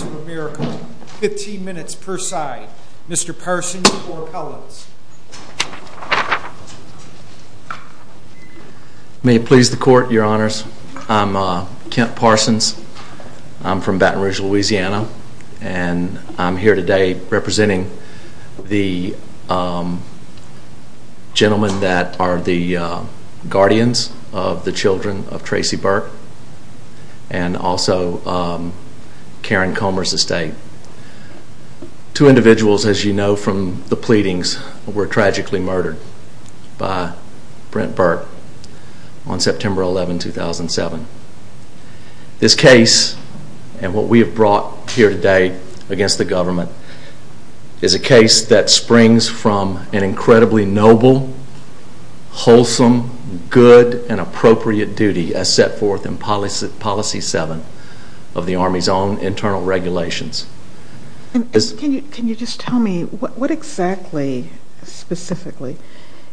of America, 15 minutes per side. Mr. Parsons for appellants. May it please the court, your honors. I'm Kent Parsons. I'm from Baton Rouge, Louisiana, and I'm here today representing the gentlemen that are the guardians of the United States of the children of Tracy Burke and also Karen Comer's estate. Two individuals, as you know from the pleadings, were tragically murdered by Brent Burke on September 11, 2007. This case and what we have brought here today against the government is a case that springs from an incredibly noble, wholesome, good, and appropriate duty as set forth in policy 7 of the Army's own internal regulations. Can you just tell me what exactly, specifically,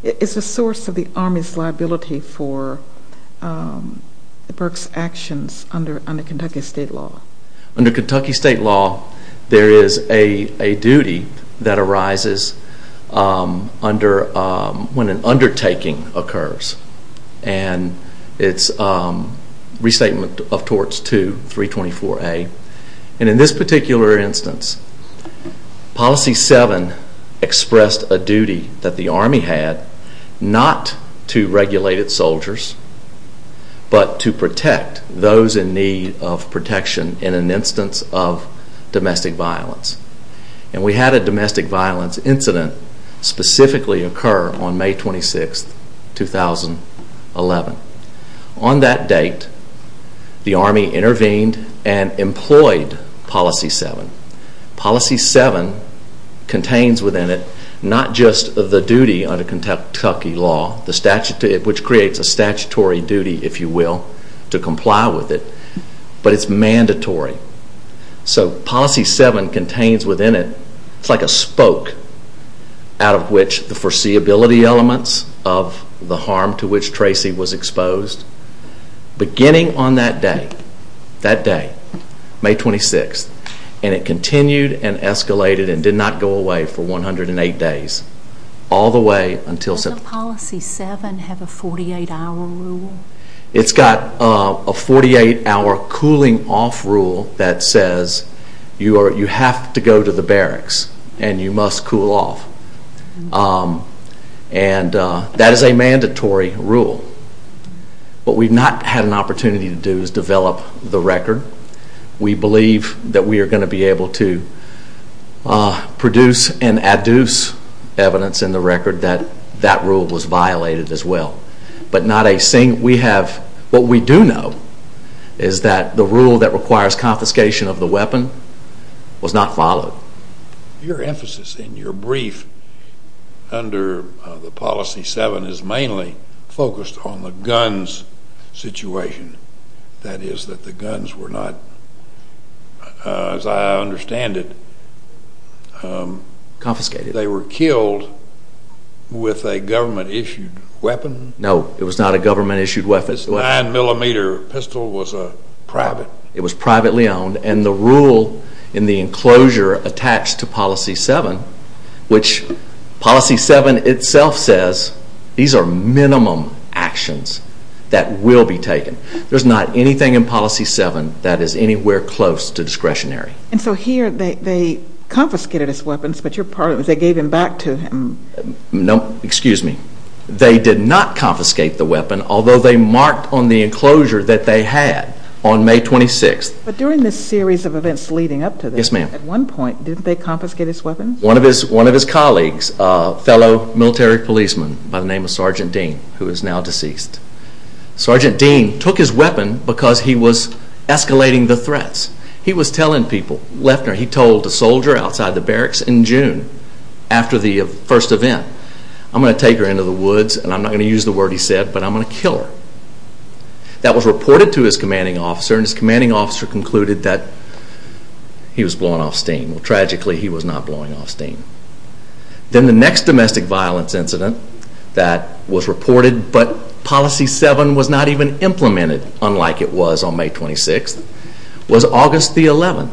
is the source of the Army's liability for Burke's actions under Kentucky state law? Under Kentucky state law, there is a duty that arises when an undertaking occurs, and it's restatement of torts 2, 324A, and in this particular instance, policy 7 expressed a duty that the Army had not to regulate its soldiers, but to protect those in need of an instance of domestic violence. And we had a domestic violence incident specifically occur on May 26, 2011. On that date, the Army intervened and employed policy 7. Policy 7 contains within it not just the duty under Kentucky law, which creates a statutory duty, if you will, to comply with it, but it's mandatory. So policy 7 contains within it, it's like a spoke out of which the foreseeability elements of the harm to which Tracy was exposed, beginning on that day, that day, May 26, and it continued and escalated and did not go away for 108 days, all the way until September. Does policy 7 have a 48 hour rule? It's got a 48 hour cooling off rule that says you have to go to the barracks and you must cool off. And that is a mandatory rule. What we've not had an opportunity to do is develop the record. We believe that we are going to be able to produce and adduce evidence in the record that that rule was violated as well. But not a single, we have, what we do know is that the rule that requires confiscation of the weapon was not followed. Your emphasis in your brief under the policy 7 is mainly focused on the guns situation. That is that the guns were not, as I understand it, they were killed with a government issued weapon? No, it was not a government issued weapon. The 9mm pistol was private? It was privately owned and the rule in the enclosure attached to policy 7, which policy 7 itself says these are minimum actions that will be taken. There's not anything in policy 7 that is anywhere close to discretionary. And so here they confiscated his weapons, but your part of it was they gave them back to him? No, excuse me. They did not confiscate the weapon, although they marked on the enclosure that they had on May 26th. But during this series of events leading up to this, at one point didn't they confiscate his weapons? One of his colleagues, a fellow military policeman by the name of Sergeant Dean, who is now deceased. Sergeant Dean took his weapon because he was escalating the threats. He was telling people, he told a soldier outside the barracks in June after the first event, I'm going to take her into the woods, and I'm not going to use the word he said, but I'm going to kill her. That was reported to his commanding officer and his commanding officer concluded that he was blowing off steam. Well tragically he was not blowing off steam. Then the next domestic violence incident that was reported but policy 7 was not even implemented, unlike it was on May 26th, was August the 11th.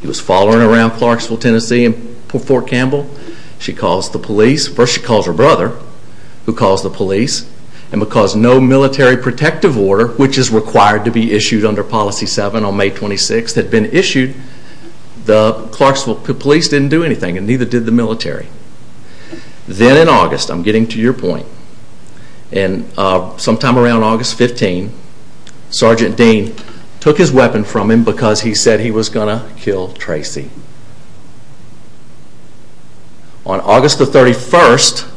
He was following around Clarksville, Tennessee in Fort Campbell. She calls the police. First she calls her brother, who calls the police, and because no military protective order, which is required to be issued under policy 7 on May 26th, had been issued, the Clarksville police didn't do anything and neither did the military. Then in August, I'm getting to your point, sometime around August 15th, Sergeant Dean took his weapon from him because he said he was going to kill Tracy. On August the 31st,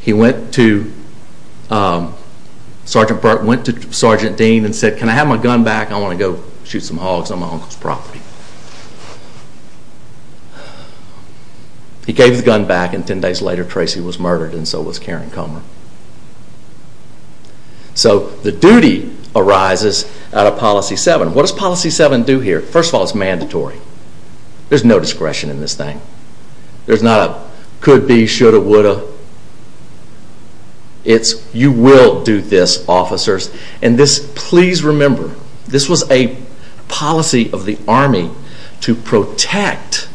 he went to Sergeant Parker's office and went to Sergeant Dean and said, can I have my gun back? I want to go shoot some hogs on my uncle's property. He gave his gun back and ten days later Tracy was murdered and so was Karen Comer. So the duty arises out of policy 7. What does policy 7 do here? First of all, it's mandatory. There's no discretion in this thing. There's not a could be, should have, would have. It's you will do this officers. And this, please remember, this was a policy of the Army to protect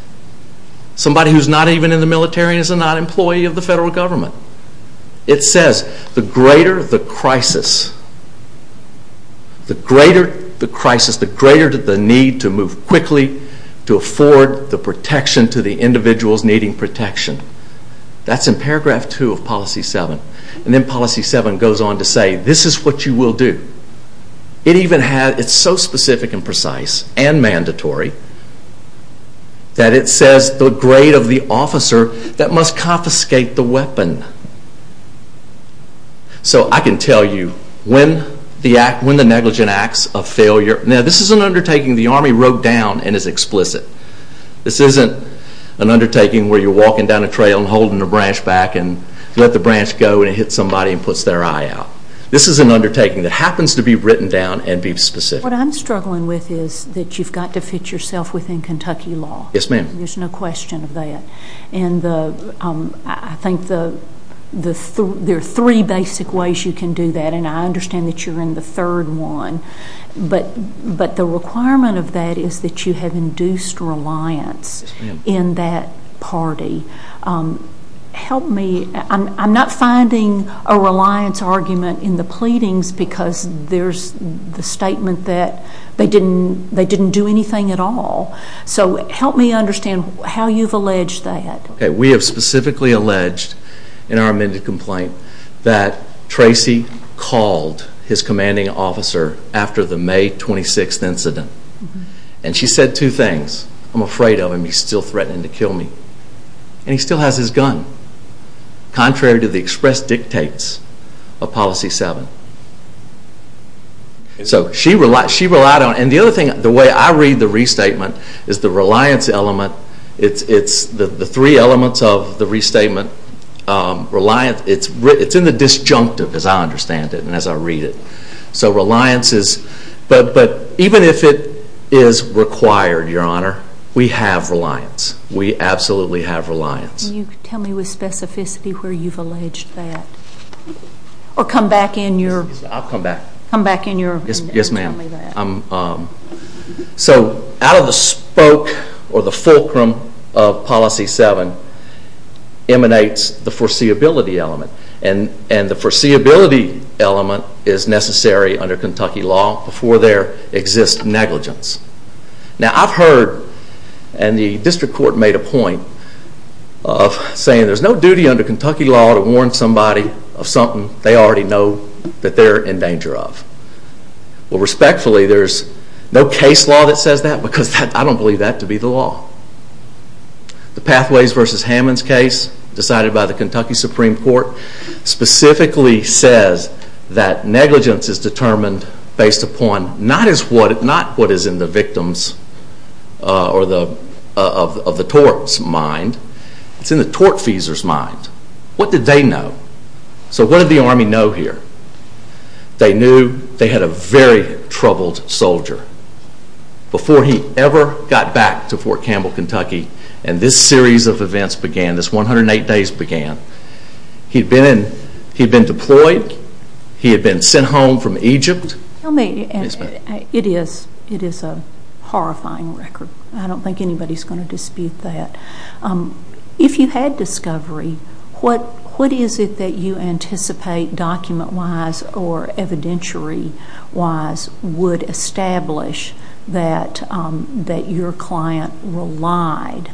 somebody who's not even in the military and is not an employee of the federal government. It says the greater the crisis, the greater the crisis, the greater the need to move quickly to afford the protection to the individuals needing protection. That's in paragraph 2 of policy 7. And then policy 7 goes on to say this is what you will do. It even has, it's so specific and precise and mandatory that it says the grade of the officer that must confiscate the weapon. So I can tell you when the negligent acts of failure, now this is an undertaking the Army wrote down and is explicit. This isn't an undertaking where you just take a branch back and let the branch go and it hits somebody and puts their eye out. This is an undertaking that happens to be written down and be specific. What I'm struggling with is that you've got to fit yourself within Kentucky law. Yes ma'am. There's no question of that. And I think there are three basic ways you can do that and I understand that you're in the third one. But the requirement of that is that you have induced reliance in that party. Help me, I'm not finding a reliance argument in the pleadings because there's the statement that they didn't do anything at all. So help me understand how you've alleged that. We have specifically alleged in our amended complaint that Tracy called his commanding officer after the May 26th incident. And she said two things. I'm afraid of him, he's still threatening to kill me. And he still has his gun. Contrary to the express dictates of Policy 7. So she relied on, and the other thing, the way I read the restatement is the reliance element, it's the three elements of the restatement, reliance, it's in the disjunctive as I understand it and as I read it. So reliance is, but even if it is required, your honor, we have reliance. We absolutely have reliance. Can you tell me with specificity where you've alleged that? Or come back in your, yes ma'am. So out of the spoke or the fulcrum of Policy 7 emanates the foreseeability element. And the foreseeability element is necessary under Kentucky law before there exists negligence. Now I've heard, and the district court made a point of saying there's no duty under Kentucky law to warn somebody of something they already know that they're in danger of. Well respectfully there's no case law that says that because I don't believe that to be the law. The Pathways v. Hammonds case decided by the Kentucky Supreme Court specifically says that negligence is determined based upon not what is in the victims of the tort's mind, it's in the tortfeasor's mind. What did they know? So what did the Army know here? They knew they had a very good record of what happened. They knew exactly when the events began, this 108 days began. He'd been deployed, he had been sent home from Egypt. Tell me, it is a horrifying record. I don't think anybody's going to dispute that. If you had discovery, what is it that you anticipate document wise or evidentiary wise would establish that your client relied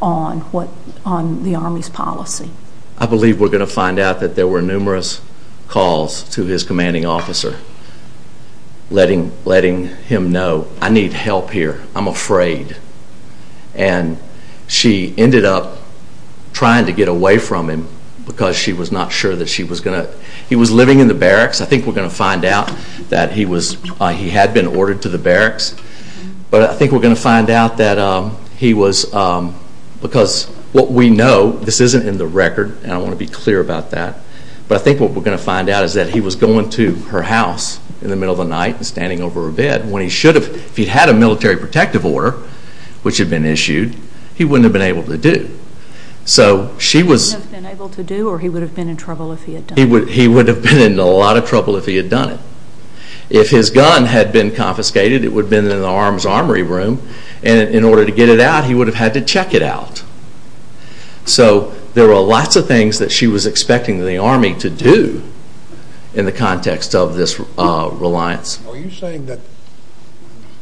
on the Army's policy? I believe we're going to find out that there were numerous calls to his commanding officer letting him know, I need help here, I'm afraid. And she ended up trying to get away from him because she was not sure that she was going to, he was living in the barracks, I think we're going to find out that he had been ordered to the barracks, but I think we're going to find out that he was, because what we know, this isn't in the record and I want to be clear about that, but I think what we're going to find out is that he was going to her house in the middle of the night and standing over her bed when he should have, if he had a military protective order, which had been issued, he wouldn't have been able to do. So she was... He wouldn't have been able to do or he would have been in trouble if he had done it. He would have been in a lot of trouble if he had confiscated. It would have been in the arms armory room and in order to get it out he would have had to check it out. So there were lots of things that she was expecting the army to do in the context of this reliance. Are you saying that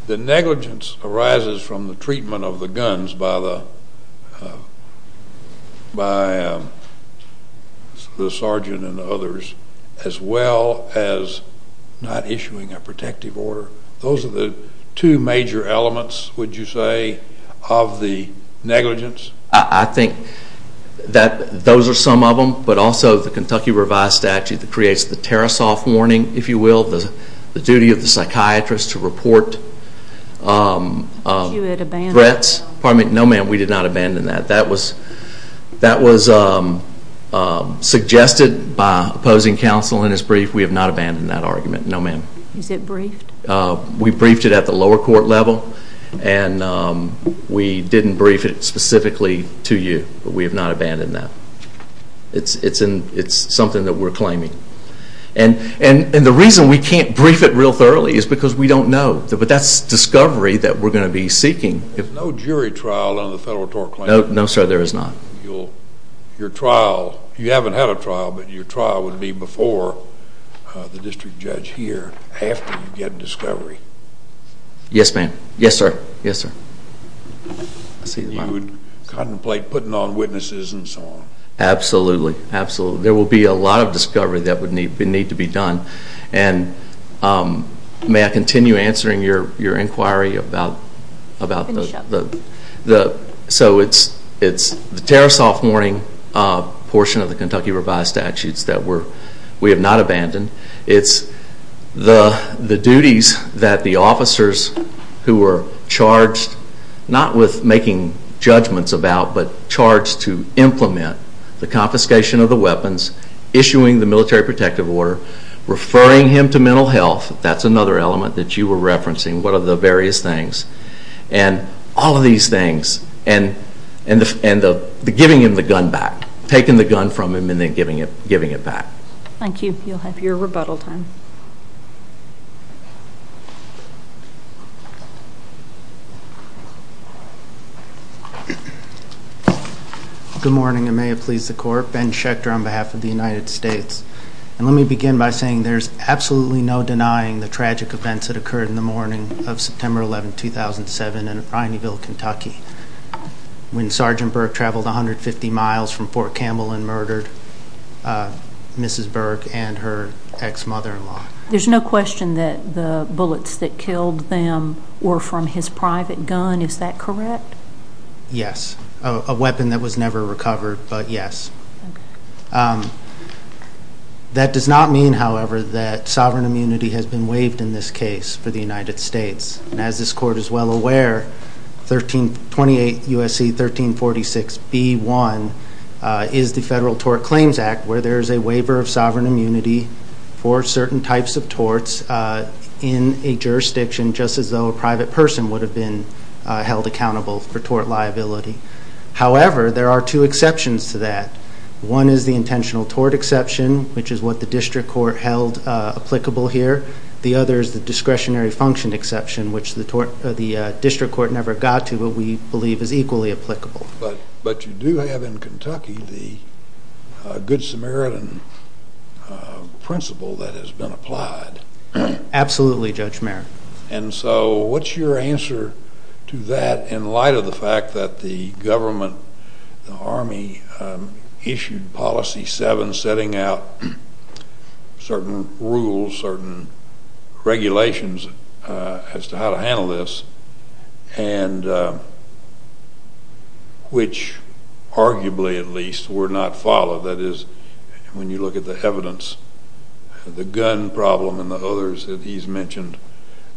the negligence arises from the treatment of the guns by the sergeant and others as well as not issuing a protective order? Those are the two major elements, would you say, of the negligence? I think that those are some of them, but also the Kentucky Revised Statute that creates the Tarasoff warning, if you will, the duty of the psychiatrist to report threats. No ma'am, we did not abandon that. That was suggested by opposing counsel in his brief. We have not abandoned that argument. No ma'am. Is it briefed? We briefed it at the lower court level and we didn't brief it specifically to you, but we have not abandoned that. It's something that we're claiming. And the reason we can't brief it real thoroughly is because we don't know, but that's discovery that we're going to be seeking. There's no jury trial on the federal tort claim. No sir, there is not. Your trial, you haven't had a trial, but your trial would be before the year after you get discovery. Yes ma'am. Yes sir. Yes sir. You would contemplate putting on witnesses and so on. Absolutely. Absolutely. There will be a lot of discovery that would need to be done. And may I continue answering your inquiry about the Tarasoff warning portion of the Kentucky revised statutes that we have not abandoned. It's the duties that the officers who were charged, not with making judgments about, but charged to implement the confiscation of the weapons, issuing the military protective order, referring him to mental health, that's another element that you were referencing, what are the various things. And all of these things. And giving him the gun back. Taking the gun from him and then giving it back. Thank you. You'll have your rebuttal time. Good morning and may it please the court. Ben Schechter on behalf of the United States. And let me begin by saying there's absolutely no denying the tragic events that occurred in the morning of September 11, 2007 in Ryanville, Kentucky. When Sgt. Burke traveled 150 miles from Fort Campbell and murdered Mrs. Burke and her ex-mother-in-law. There's no question that the bullets that killed them were from his private gun, is that correct? Yes. A weapon that was never recovered, but yes. That does not mean, however, that sovereign immunity has been waived in this case for the United States. And as this court is well aware, 28 U.S.C. 1346 B.1 is the Federal Tort Claims Act, where there is a waiver of sovereign immunity for certain types of torts in a jurisdiction, just as though a private person would have been held accountable for tort liability. However, there are two exceptions to that. One is the intentional tort exception, which is what the district court held applicable here. The other is the discretionary function exception, which the district court never got to, but we believe is equally applicable. But you do have in Kentucky the Good Samaritan principle that has been applied. Absolutely, Judge Mayer. And so what's your answer to that in light of the fact that the government, the Army, issued Policy 7 setting out certain rules, certain regulations as to how to handle this, and which arguably at least were not followed. That is, when you look at the evidence, the gun problem and the others that he's mentioned,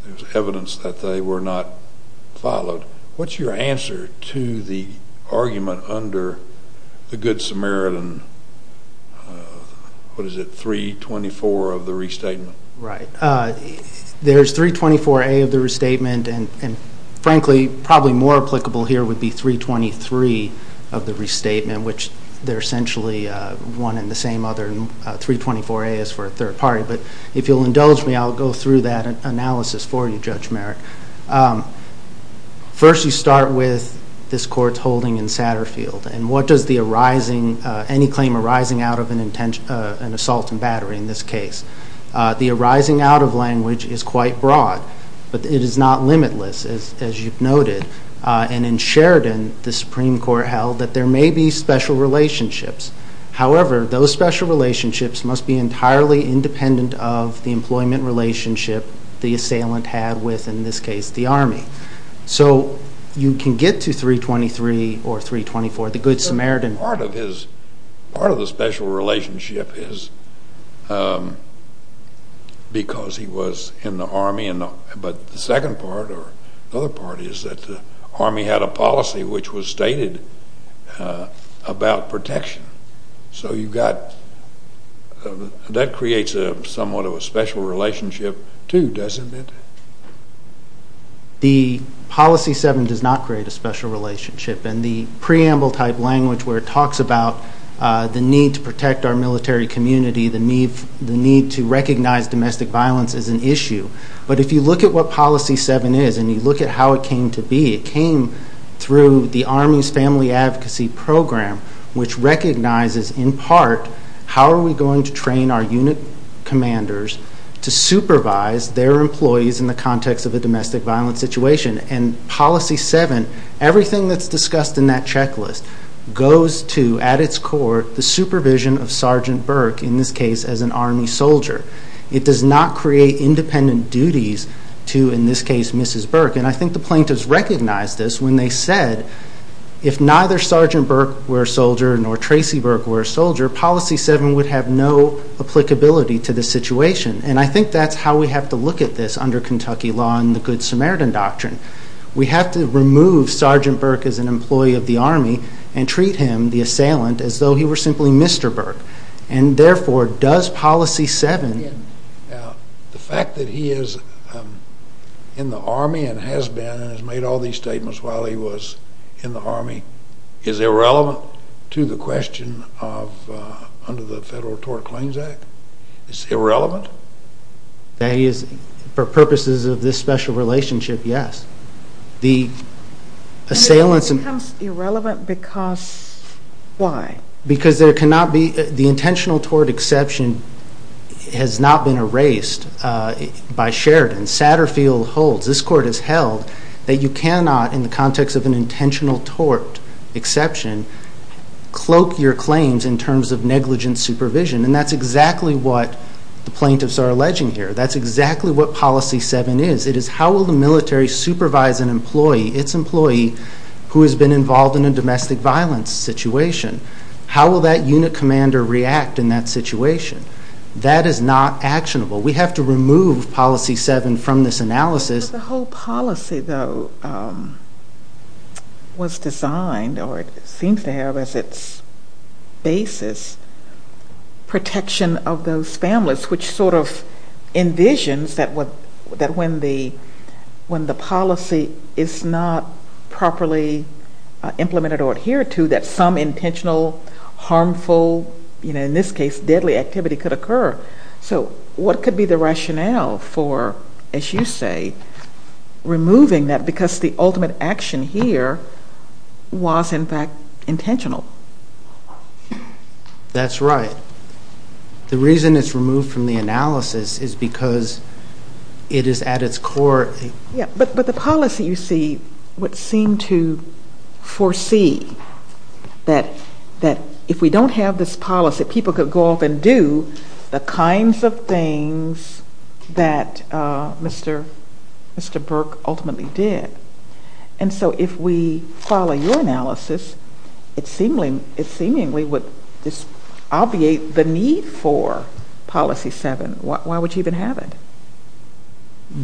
there's evidence that they were not followed. What's your answer to the argument under the restatement? Right. There's 324A of the restatement, and frankly, probably more applicable here would be 323 of the restatement, which they're essentially one and the same other. 324A is for a third party. But if you'll indulge me, I'll go through that analysis for you, Judge Mayer. First, you start with this court's holding in Satterfield, and what does any claim arising out of an assault and battery in this case? The arising out of language is quite broad, but it is not limitless, as you've noted. And in Sheridan, the Supreme Court held that there may be special relationships. However, those special relationships must be entirely independent of the employment relationship the assailant had with, in this Part of the special relationship is because he was in the Army, but the second part or the other part is that the Army had a policy which was stated about protection. So you got, that creates somewhat of a special relationship too, doesn't it? The policy 7 does not create a special relationship. And the preamble type language where it talks about the need to protect our military community, the need to recognize domestic violence is an issue. But if you look at what policy 7 is, and you look at how it came to be, it came through the Army's Family Advocacy Program, which recognizes, in part, how are we going to train our unit commanders to supervise their employees in the context of a domestic violence situation? And policy 7, everything that's discussed in that checklist, goes to, at its core, the supervision of Sergeant Burke, in this case, as an Army soldier. It does not create independent duties to, in this case, Mrs. Burke. And I think the plaintiffs recognized this when they said, if neither Sergeant Burke were a soldier nor Tracy Burke were a soldier, policy 7 would have no applicability to the situation. And I think that's how we have to look at this under Kentucky law and the Good Samaritan Doctrine. We have to remove Sergeant Burke as an employee of the Army and treat him, the assailant, as though he were simply Mr. Burke. And therefore, does policy 7... Now, the fact that he is in the Army and has been and has made all these statements while he was in the Army, is irrelevant to the question of, under the Federal Tort Claims Act? It's irrelevant? That he is, for purposes of this special relationship, yes. The assailant's... And it becomes irrelevant because... why? Because there cannot be... the intentional tort exception has not been erased by Sheridan. Satterfield holds, this Court has held, that you cannot, in the context of an intentional tort exception, cloak your claims in terms of negligent supervision. And that's exactly what the plaintiffs are alleging here. That's exactly what policy 7 is. It is how will the military supervise an employee, its employee, who has been involved in a domestic violence situation? How will that unit commander react in that situation? That is not actionable. We have to remove policy 7 from this analysis. But the whole policy, though, was designed, or it seems to have as its basis, protection of those families, which sort of envisions that when the policy is not properly implemented or adhered to, that some intentional, harmful, in this case, deadly activity could occur. So what could be the rationale for, as you say, removing that because the ultimate action here was, in fact, intentional? That's right. The reason it's removed from the analysis is because it is at its core... But the policy, you see, would seem to foresee that if we don't have this policy, people could go off and do the kinds of things that Mr. Burke ultimately did. And so if we follow your analysis, it seemingly would obviate the need for policy 7. Why would you even have it?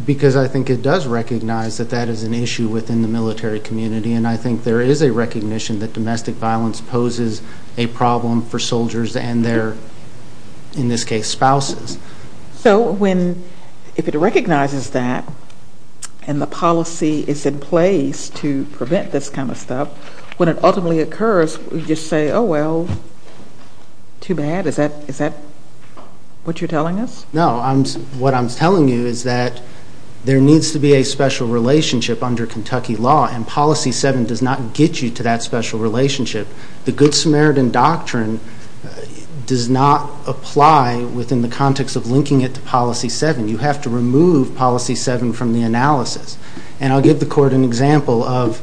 Because I think it does recognize that that is an issue within the military community, and I think there is a recognition that domestic violence poses a problem for soldiers and their, in this case, spouses. So if it recognizes that and the policy is in place to prevent this kind of stuff, when it ultimately occurs, we just say, oh, well, too bad? Is that what you're telling us? No. What I'm telling you is that there needs to be a special relationship under Kentucky law, and policy 7 does not get you to that special relationship. The Good Samaritan Doctrine does not apply within the context of linking it to policy 7. You have to remove policy 7 from the analysis. And I'll give the Court an example of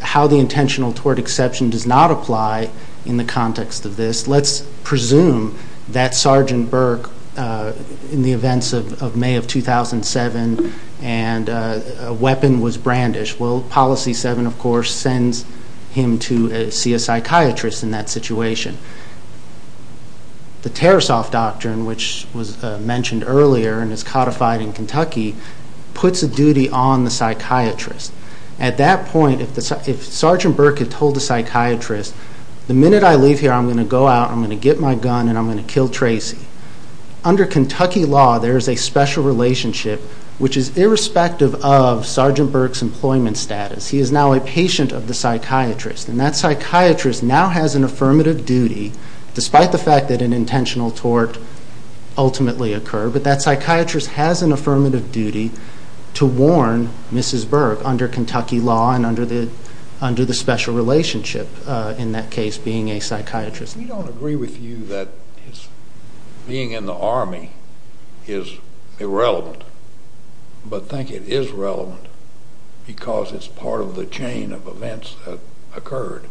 how the intentional toward exception does not apply in the context of this. Let's presume that Sergeant Burke, in the events of May of 2007, and a weapon was brandished. Well, policy 7, of course, sends him to see a psychiatrist in that situation. The Tear Us Off Doctrine, which was mentioned earlier and is codified in Kentucky, puts a duty on the psychiatrist. At that point, if Sergeant Burke had told the psychiatrist, the minute I leave here, I'm going to go out, I'm going to get my relationship, which is irrespective of Sergeant Burke's employment status. He is now a patient of the psychiatrist, and that psychiatrist now has an affirmative duty, despite the fact that an intentional tort ultimately occurred, but that psychiatrist has an affirmative duty to warn Mrs. Burke under Kentucky law and under the special relationship, in that case, being a psychiatrist. If we don't agree with you that being in the Army is irrelevant, but think it is relevant because it's part of the chain of events that occurred,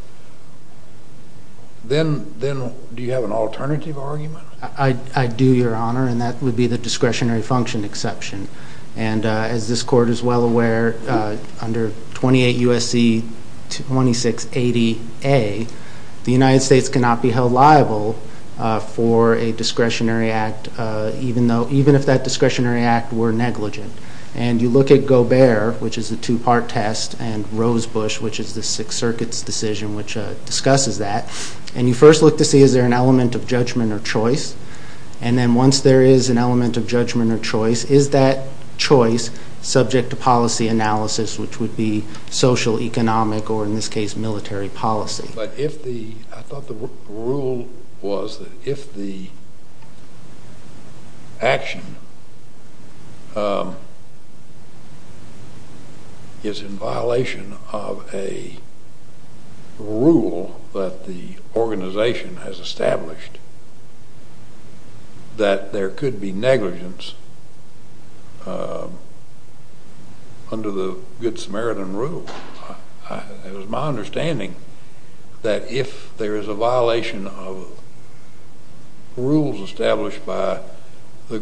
then do you have an alternative argument? I do, Your Honor, and that would be the discretionary function exception. And as this Court is well aware, under 28 U.S.C. 2680A, the United States cannot be held liable for a discretionary act, even if that discretionary act were negligent. And you look at Gobert, which is the two-part test, and Rosebush, which is the Sixth Circuit's decision, which discusses that, and you first look to see, is there an element of judgment or choice? And then once there is an element of judgment or choice, is that choice subject to policy analysis, which would be socioeconomic or, in this case, military policy? But if the, I thought the rule was that if the action is in violation of a rule that the organization has established, that there could be negligence under the Good Samaritan Rule. It was my understanding that if there is a violation of rules established by the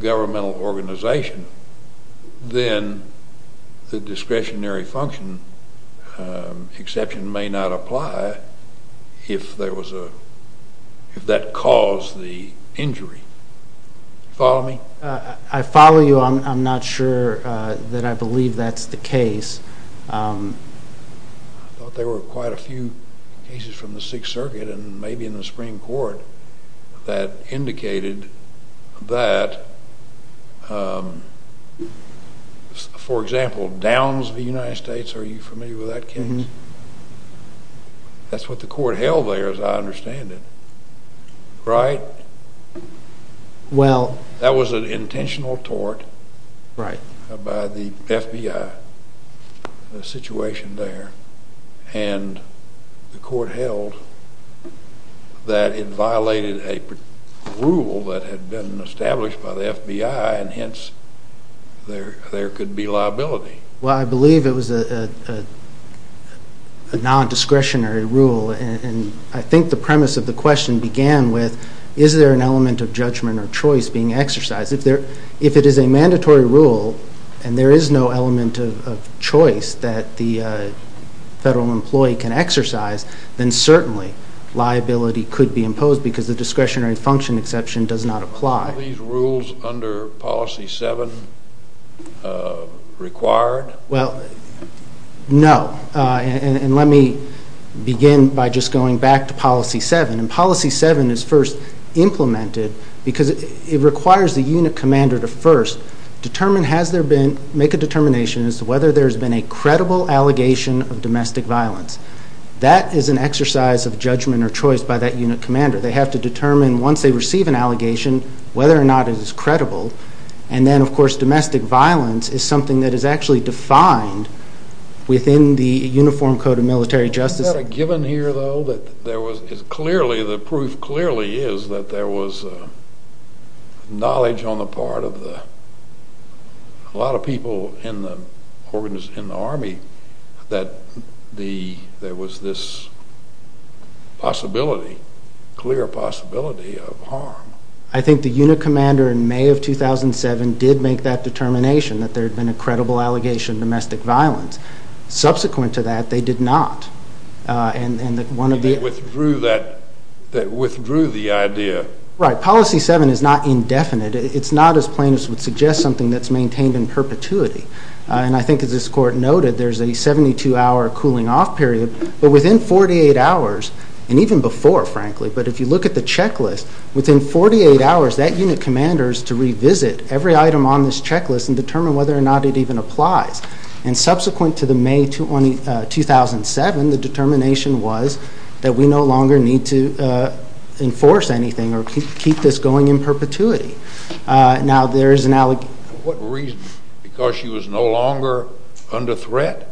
if that caused the injury. Follow me? I follow you. I'm not sure that I believe that's the case. I thought there were quite a few cases from the Sixth Circuit and maybe in the Supreme Court that indicated that, for example, Downs v. United States, are you familiar with that case? That's what the court held there, as I understand it, right? Well That was an intentional tort by the FBI, the situation there, and the court held that it violated a rule that had been established by the FBI, and hence, there could be liability. Well, I believe it was a nondiscretionary rule, and I think the premise of the question began with, is there an element of judgment or choice being exercised? If it is a mandatory rule and there is no element of choice that the federal employee can exercise, then certainly liability could be imposed because the discretionary function exception does not apply. Are these rules under Policy 7 required? Well, no. And let me begin by just going back to Policy 7. And Policy 7 is first implemented because it requires the unit commander to first make a determination as to whether there has been a credible allegation of domestic violence. That is an exercise of judgment or choice by that unit commander. They have to determine, once they receive an allegation, whether or not it is credible. And then, of course, domestic violence is something that is actually defined within the Uniform Code of Military Justice. Isn't that a given here, though, that there was clearly, the proof clearly is that there was knowledge on the part of a lot of people in the Army that there was this possibility, clear possibility of harm? I think the unit commander in May of 2007 did make that determination, that there had been a credible allegation of domestic violence. Subsequent to that, they did not, and one of the— They withdrew that—they withdrew the idea. Right. Policy 7 is not indefinite. It is not, as plaintiffs would suggest, something that is maintained in perpetuity. And I think, as this Court noted, there is a 72-hour cooling-off period. But within 48 hours, and even before, frankly, but if you look at the checklist, within 48 hours, that unit commander is to revisit every item on this checklist and determine whether or not it even applies. And subsequent to May 2007, the determination was that we no longer need to enforce anything or keep this going in perpetuity. Now, there is an allegation— What reason? Because she was no longer under threat?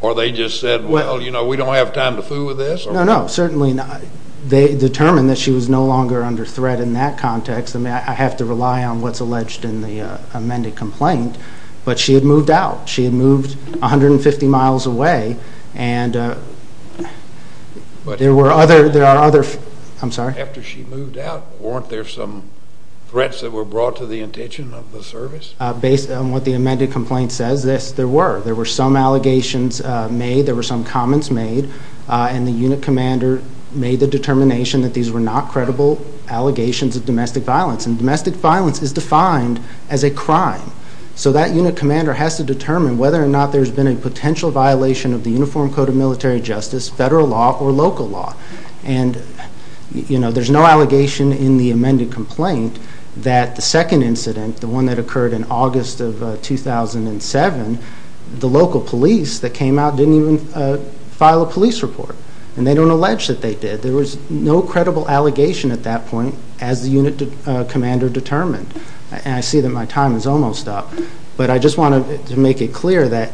Or they just said, well, you know, we don't have time to fool with this? No, no, certainly not. They determined that she was no longer under threat in that context. I mean, I have to rely on what's alleged in the amended complaint. But she had moved out. She had moved 150 miles away, and there were other—there are other—I'm sorry? After she moved out, weren't there some threats that were brought to the intention of the service? Based on what the amended complaint says, yes, there were. There were some allegations made. There were some comments made. And the unit commander made the determination that these were not credible allegations of domestic violence. And domestic violence is defined as a crime. So that unit commander has to determine whether or not there's been a potential violation of the Uniform Code of Military Justice, federal law, or local law. And, you know, there's no allegation in the amended complaint that the second incident, the one that occurred in August of 2007, the local police that came out didn't even file a police report. And they don't allege that they did. There was no credible allegation at that point as the unit commander determined. And I see that my time is almost up. But I just want to make it clear that,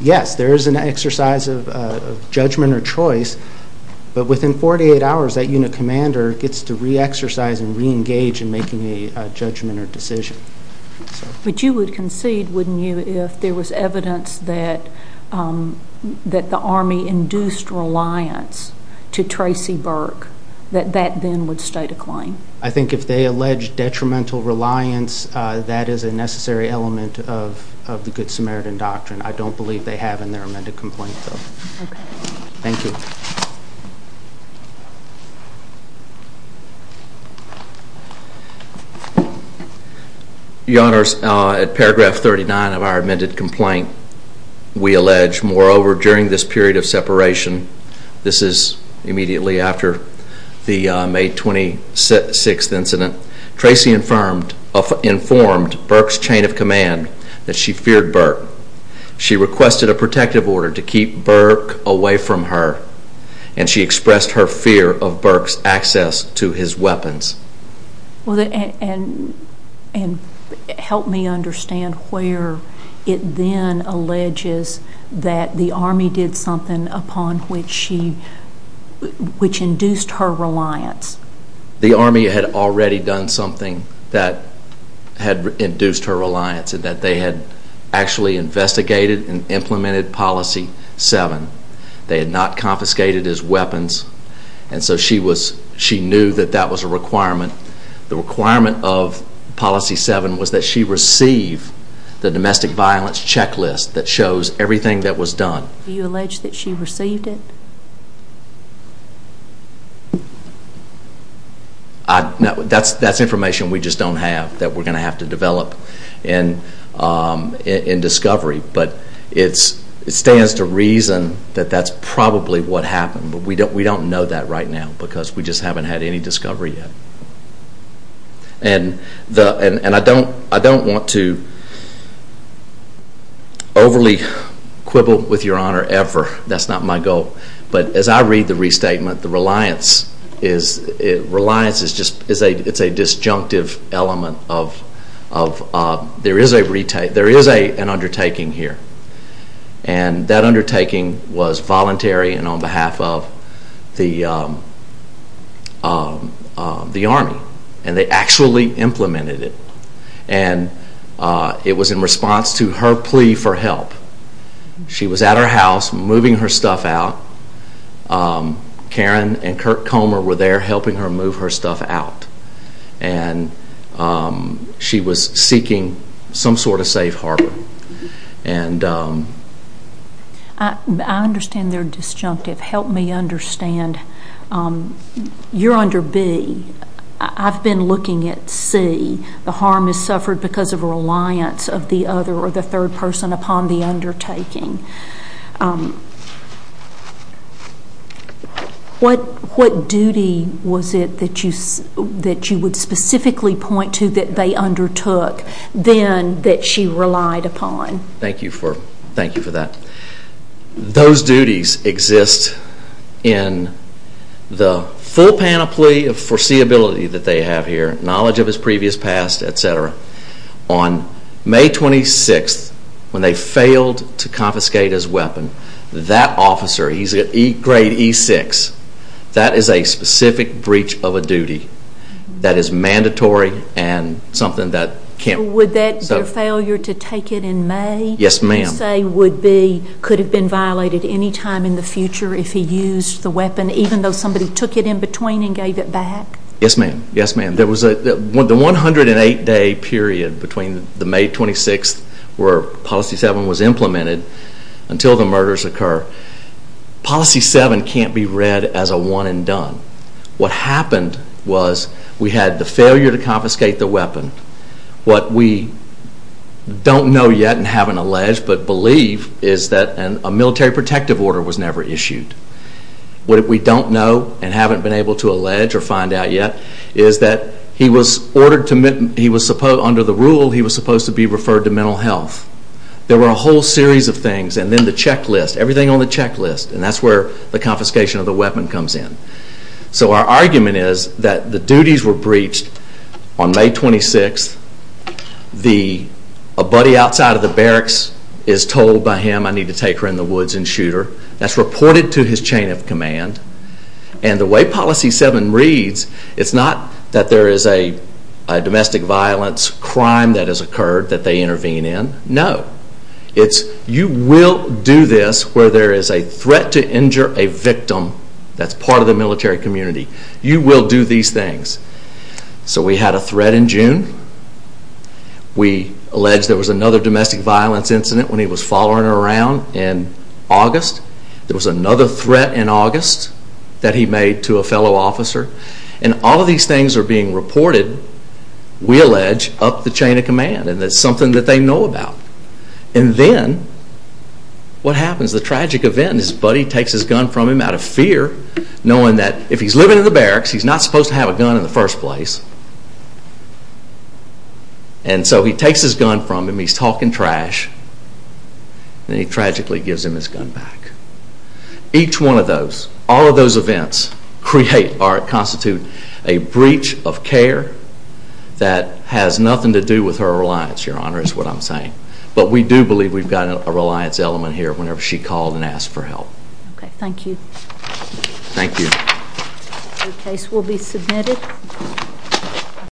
yes, there is an exercise of judgment or choice. But within 48 hours, that unit commander gets to re-exercise and re-engage in making a judgment or decision. But you would concede, wouldn't you, if there was evidence that the Army induced reliance to Tracy Burke, that that then would state a claim? I think if they allege detrimental reliance, that is a necessary element of the Good Samaritan Doctrine. I don't believe they have in their amended complaint, though. Thank you. Your Honors, at paragraph 39 of our amended complaint, we allege, moreover, during this period of separation, this is immediately after the May 26th incident, Tracy informed Burke's chain of command that she feared Burke. She requested a protective order to keep Burke away from her. And she expressed her fear of Burke's access to his weapons. And help me understand where it then alleges that the Army did something upon which she, which induced her reliance. The Army had already done something that had induced her reliance in that they had actually investigated and implemented Policy 7. They had not confiscated his weapons. And so she knew that that was a requirement. The requirement of Policy 7 was that she receive the domestic violence checklist that shows everything that was done. Do you allege that she received it? That's information we just don't have that we're going to have to develop in discovery. But it stands to reason that that's probably what happened. But we don't know that right now because we just haven't had any discovery yet. And I don't want to overly quibble with your honor ever. That's not my goal. But as I read the restatement, the reliance is just, it's a disjunctive element of, there is an undertaking here. And that undertaking was voluntary and on behalf of the Army. And they actually implemented it. And it was in her house, moving her stuff out. Karen and Kirk Comer were there helping her move her stuff out. And she was seeking some sort of safe harbor. I understand they're disjunctive. Help me understand. You're under B. I've been looking at C. The harm is suffered because of a reliance of the other or the third person upon the undertaking. What duty was it that you would specifically point to that they undertook then that she relied upon? Thank you for that. Those duties exist in the full panoply of foreseeability that they have here, knowledge of his previous past, etc. On May 26th, when they failed to confiscate his weapon, that officer, he's a grade E6, that is a specific breach of a duty that is mandatory and something that can't be. Would that, their failure to take it in May? Yes, ma'am. You say would be, could have been violated any time in the future if he used the weapon, even though somebody took it in between and gave it back? Yes, ma'am. Yes, ma'am. There was a 108-day period between the May 26th where Policy 7 was implemented until the murders occur. Policy 7 can't be read as a one and done. What happened was we had the failure to confiscate the weapon. What we don't know yet and haven't alleged but believe is that a military protective order was never issued. What we don't know and haven't been able to allege or find out yet is that he was ordered to, under the rule, he was supposed to be referred to mental health. There were a whole series of things and then the checklist, everything on the checklist and that's where the confiscation of the weapon comes in. So our argument is that the duties were breached on May 26th, a buddy outside of the barracks is told by him, I need to take her in the woods and shoot her. That's reported to his chain of command. And the way Policy 7 reads, it's not that there is a domestic violence crime that has occurred that they intervene in. No. It's you will do this where there is a threat to injure a victim that's part of the military community. You will do these things. So we had a threat in June. We allege there was another domestic violence incident when he was following her around in August. There was another threat in August that he made to a fellow officer. And all of these things are being reported, we allege, up the chain of command and it's something that they know about. And then what happens? The tragic event is his buddy takes his gun from him out of fear knowing that if he's living in the barracks he's not supposed to have a gun in the first place. And so he takes his gun from him, he's talking trash, and he tragically gives him his gun back. Each one of those, all of those events create or constitute a breach of care that has nothing to do with her reliance, Your Honor, is what I'm saying. But we do believe we've got a reliance element here whenever she called and asked for help. Okay, thank you. Thank you. The case will be submitted.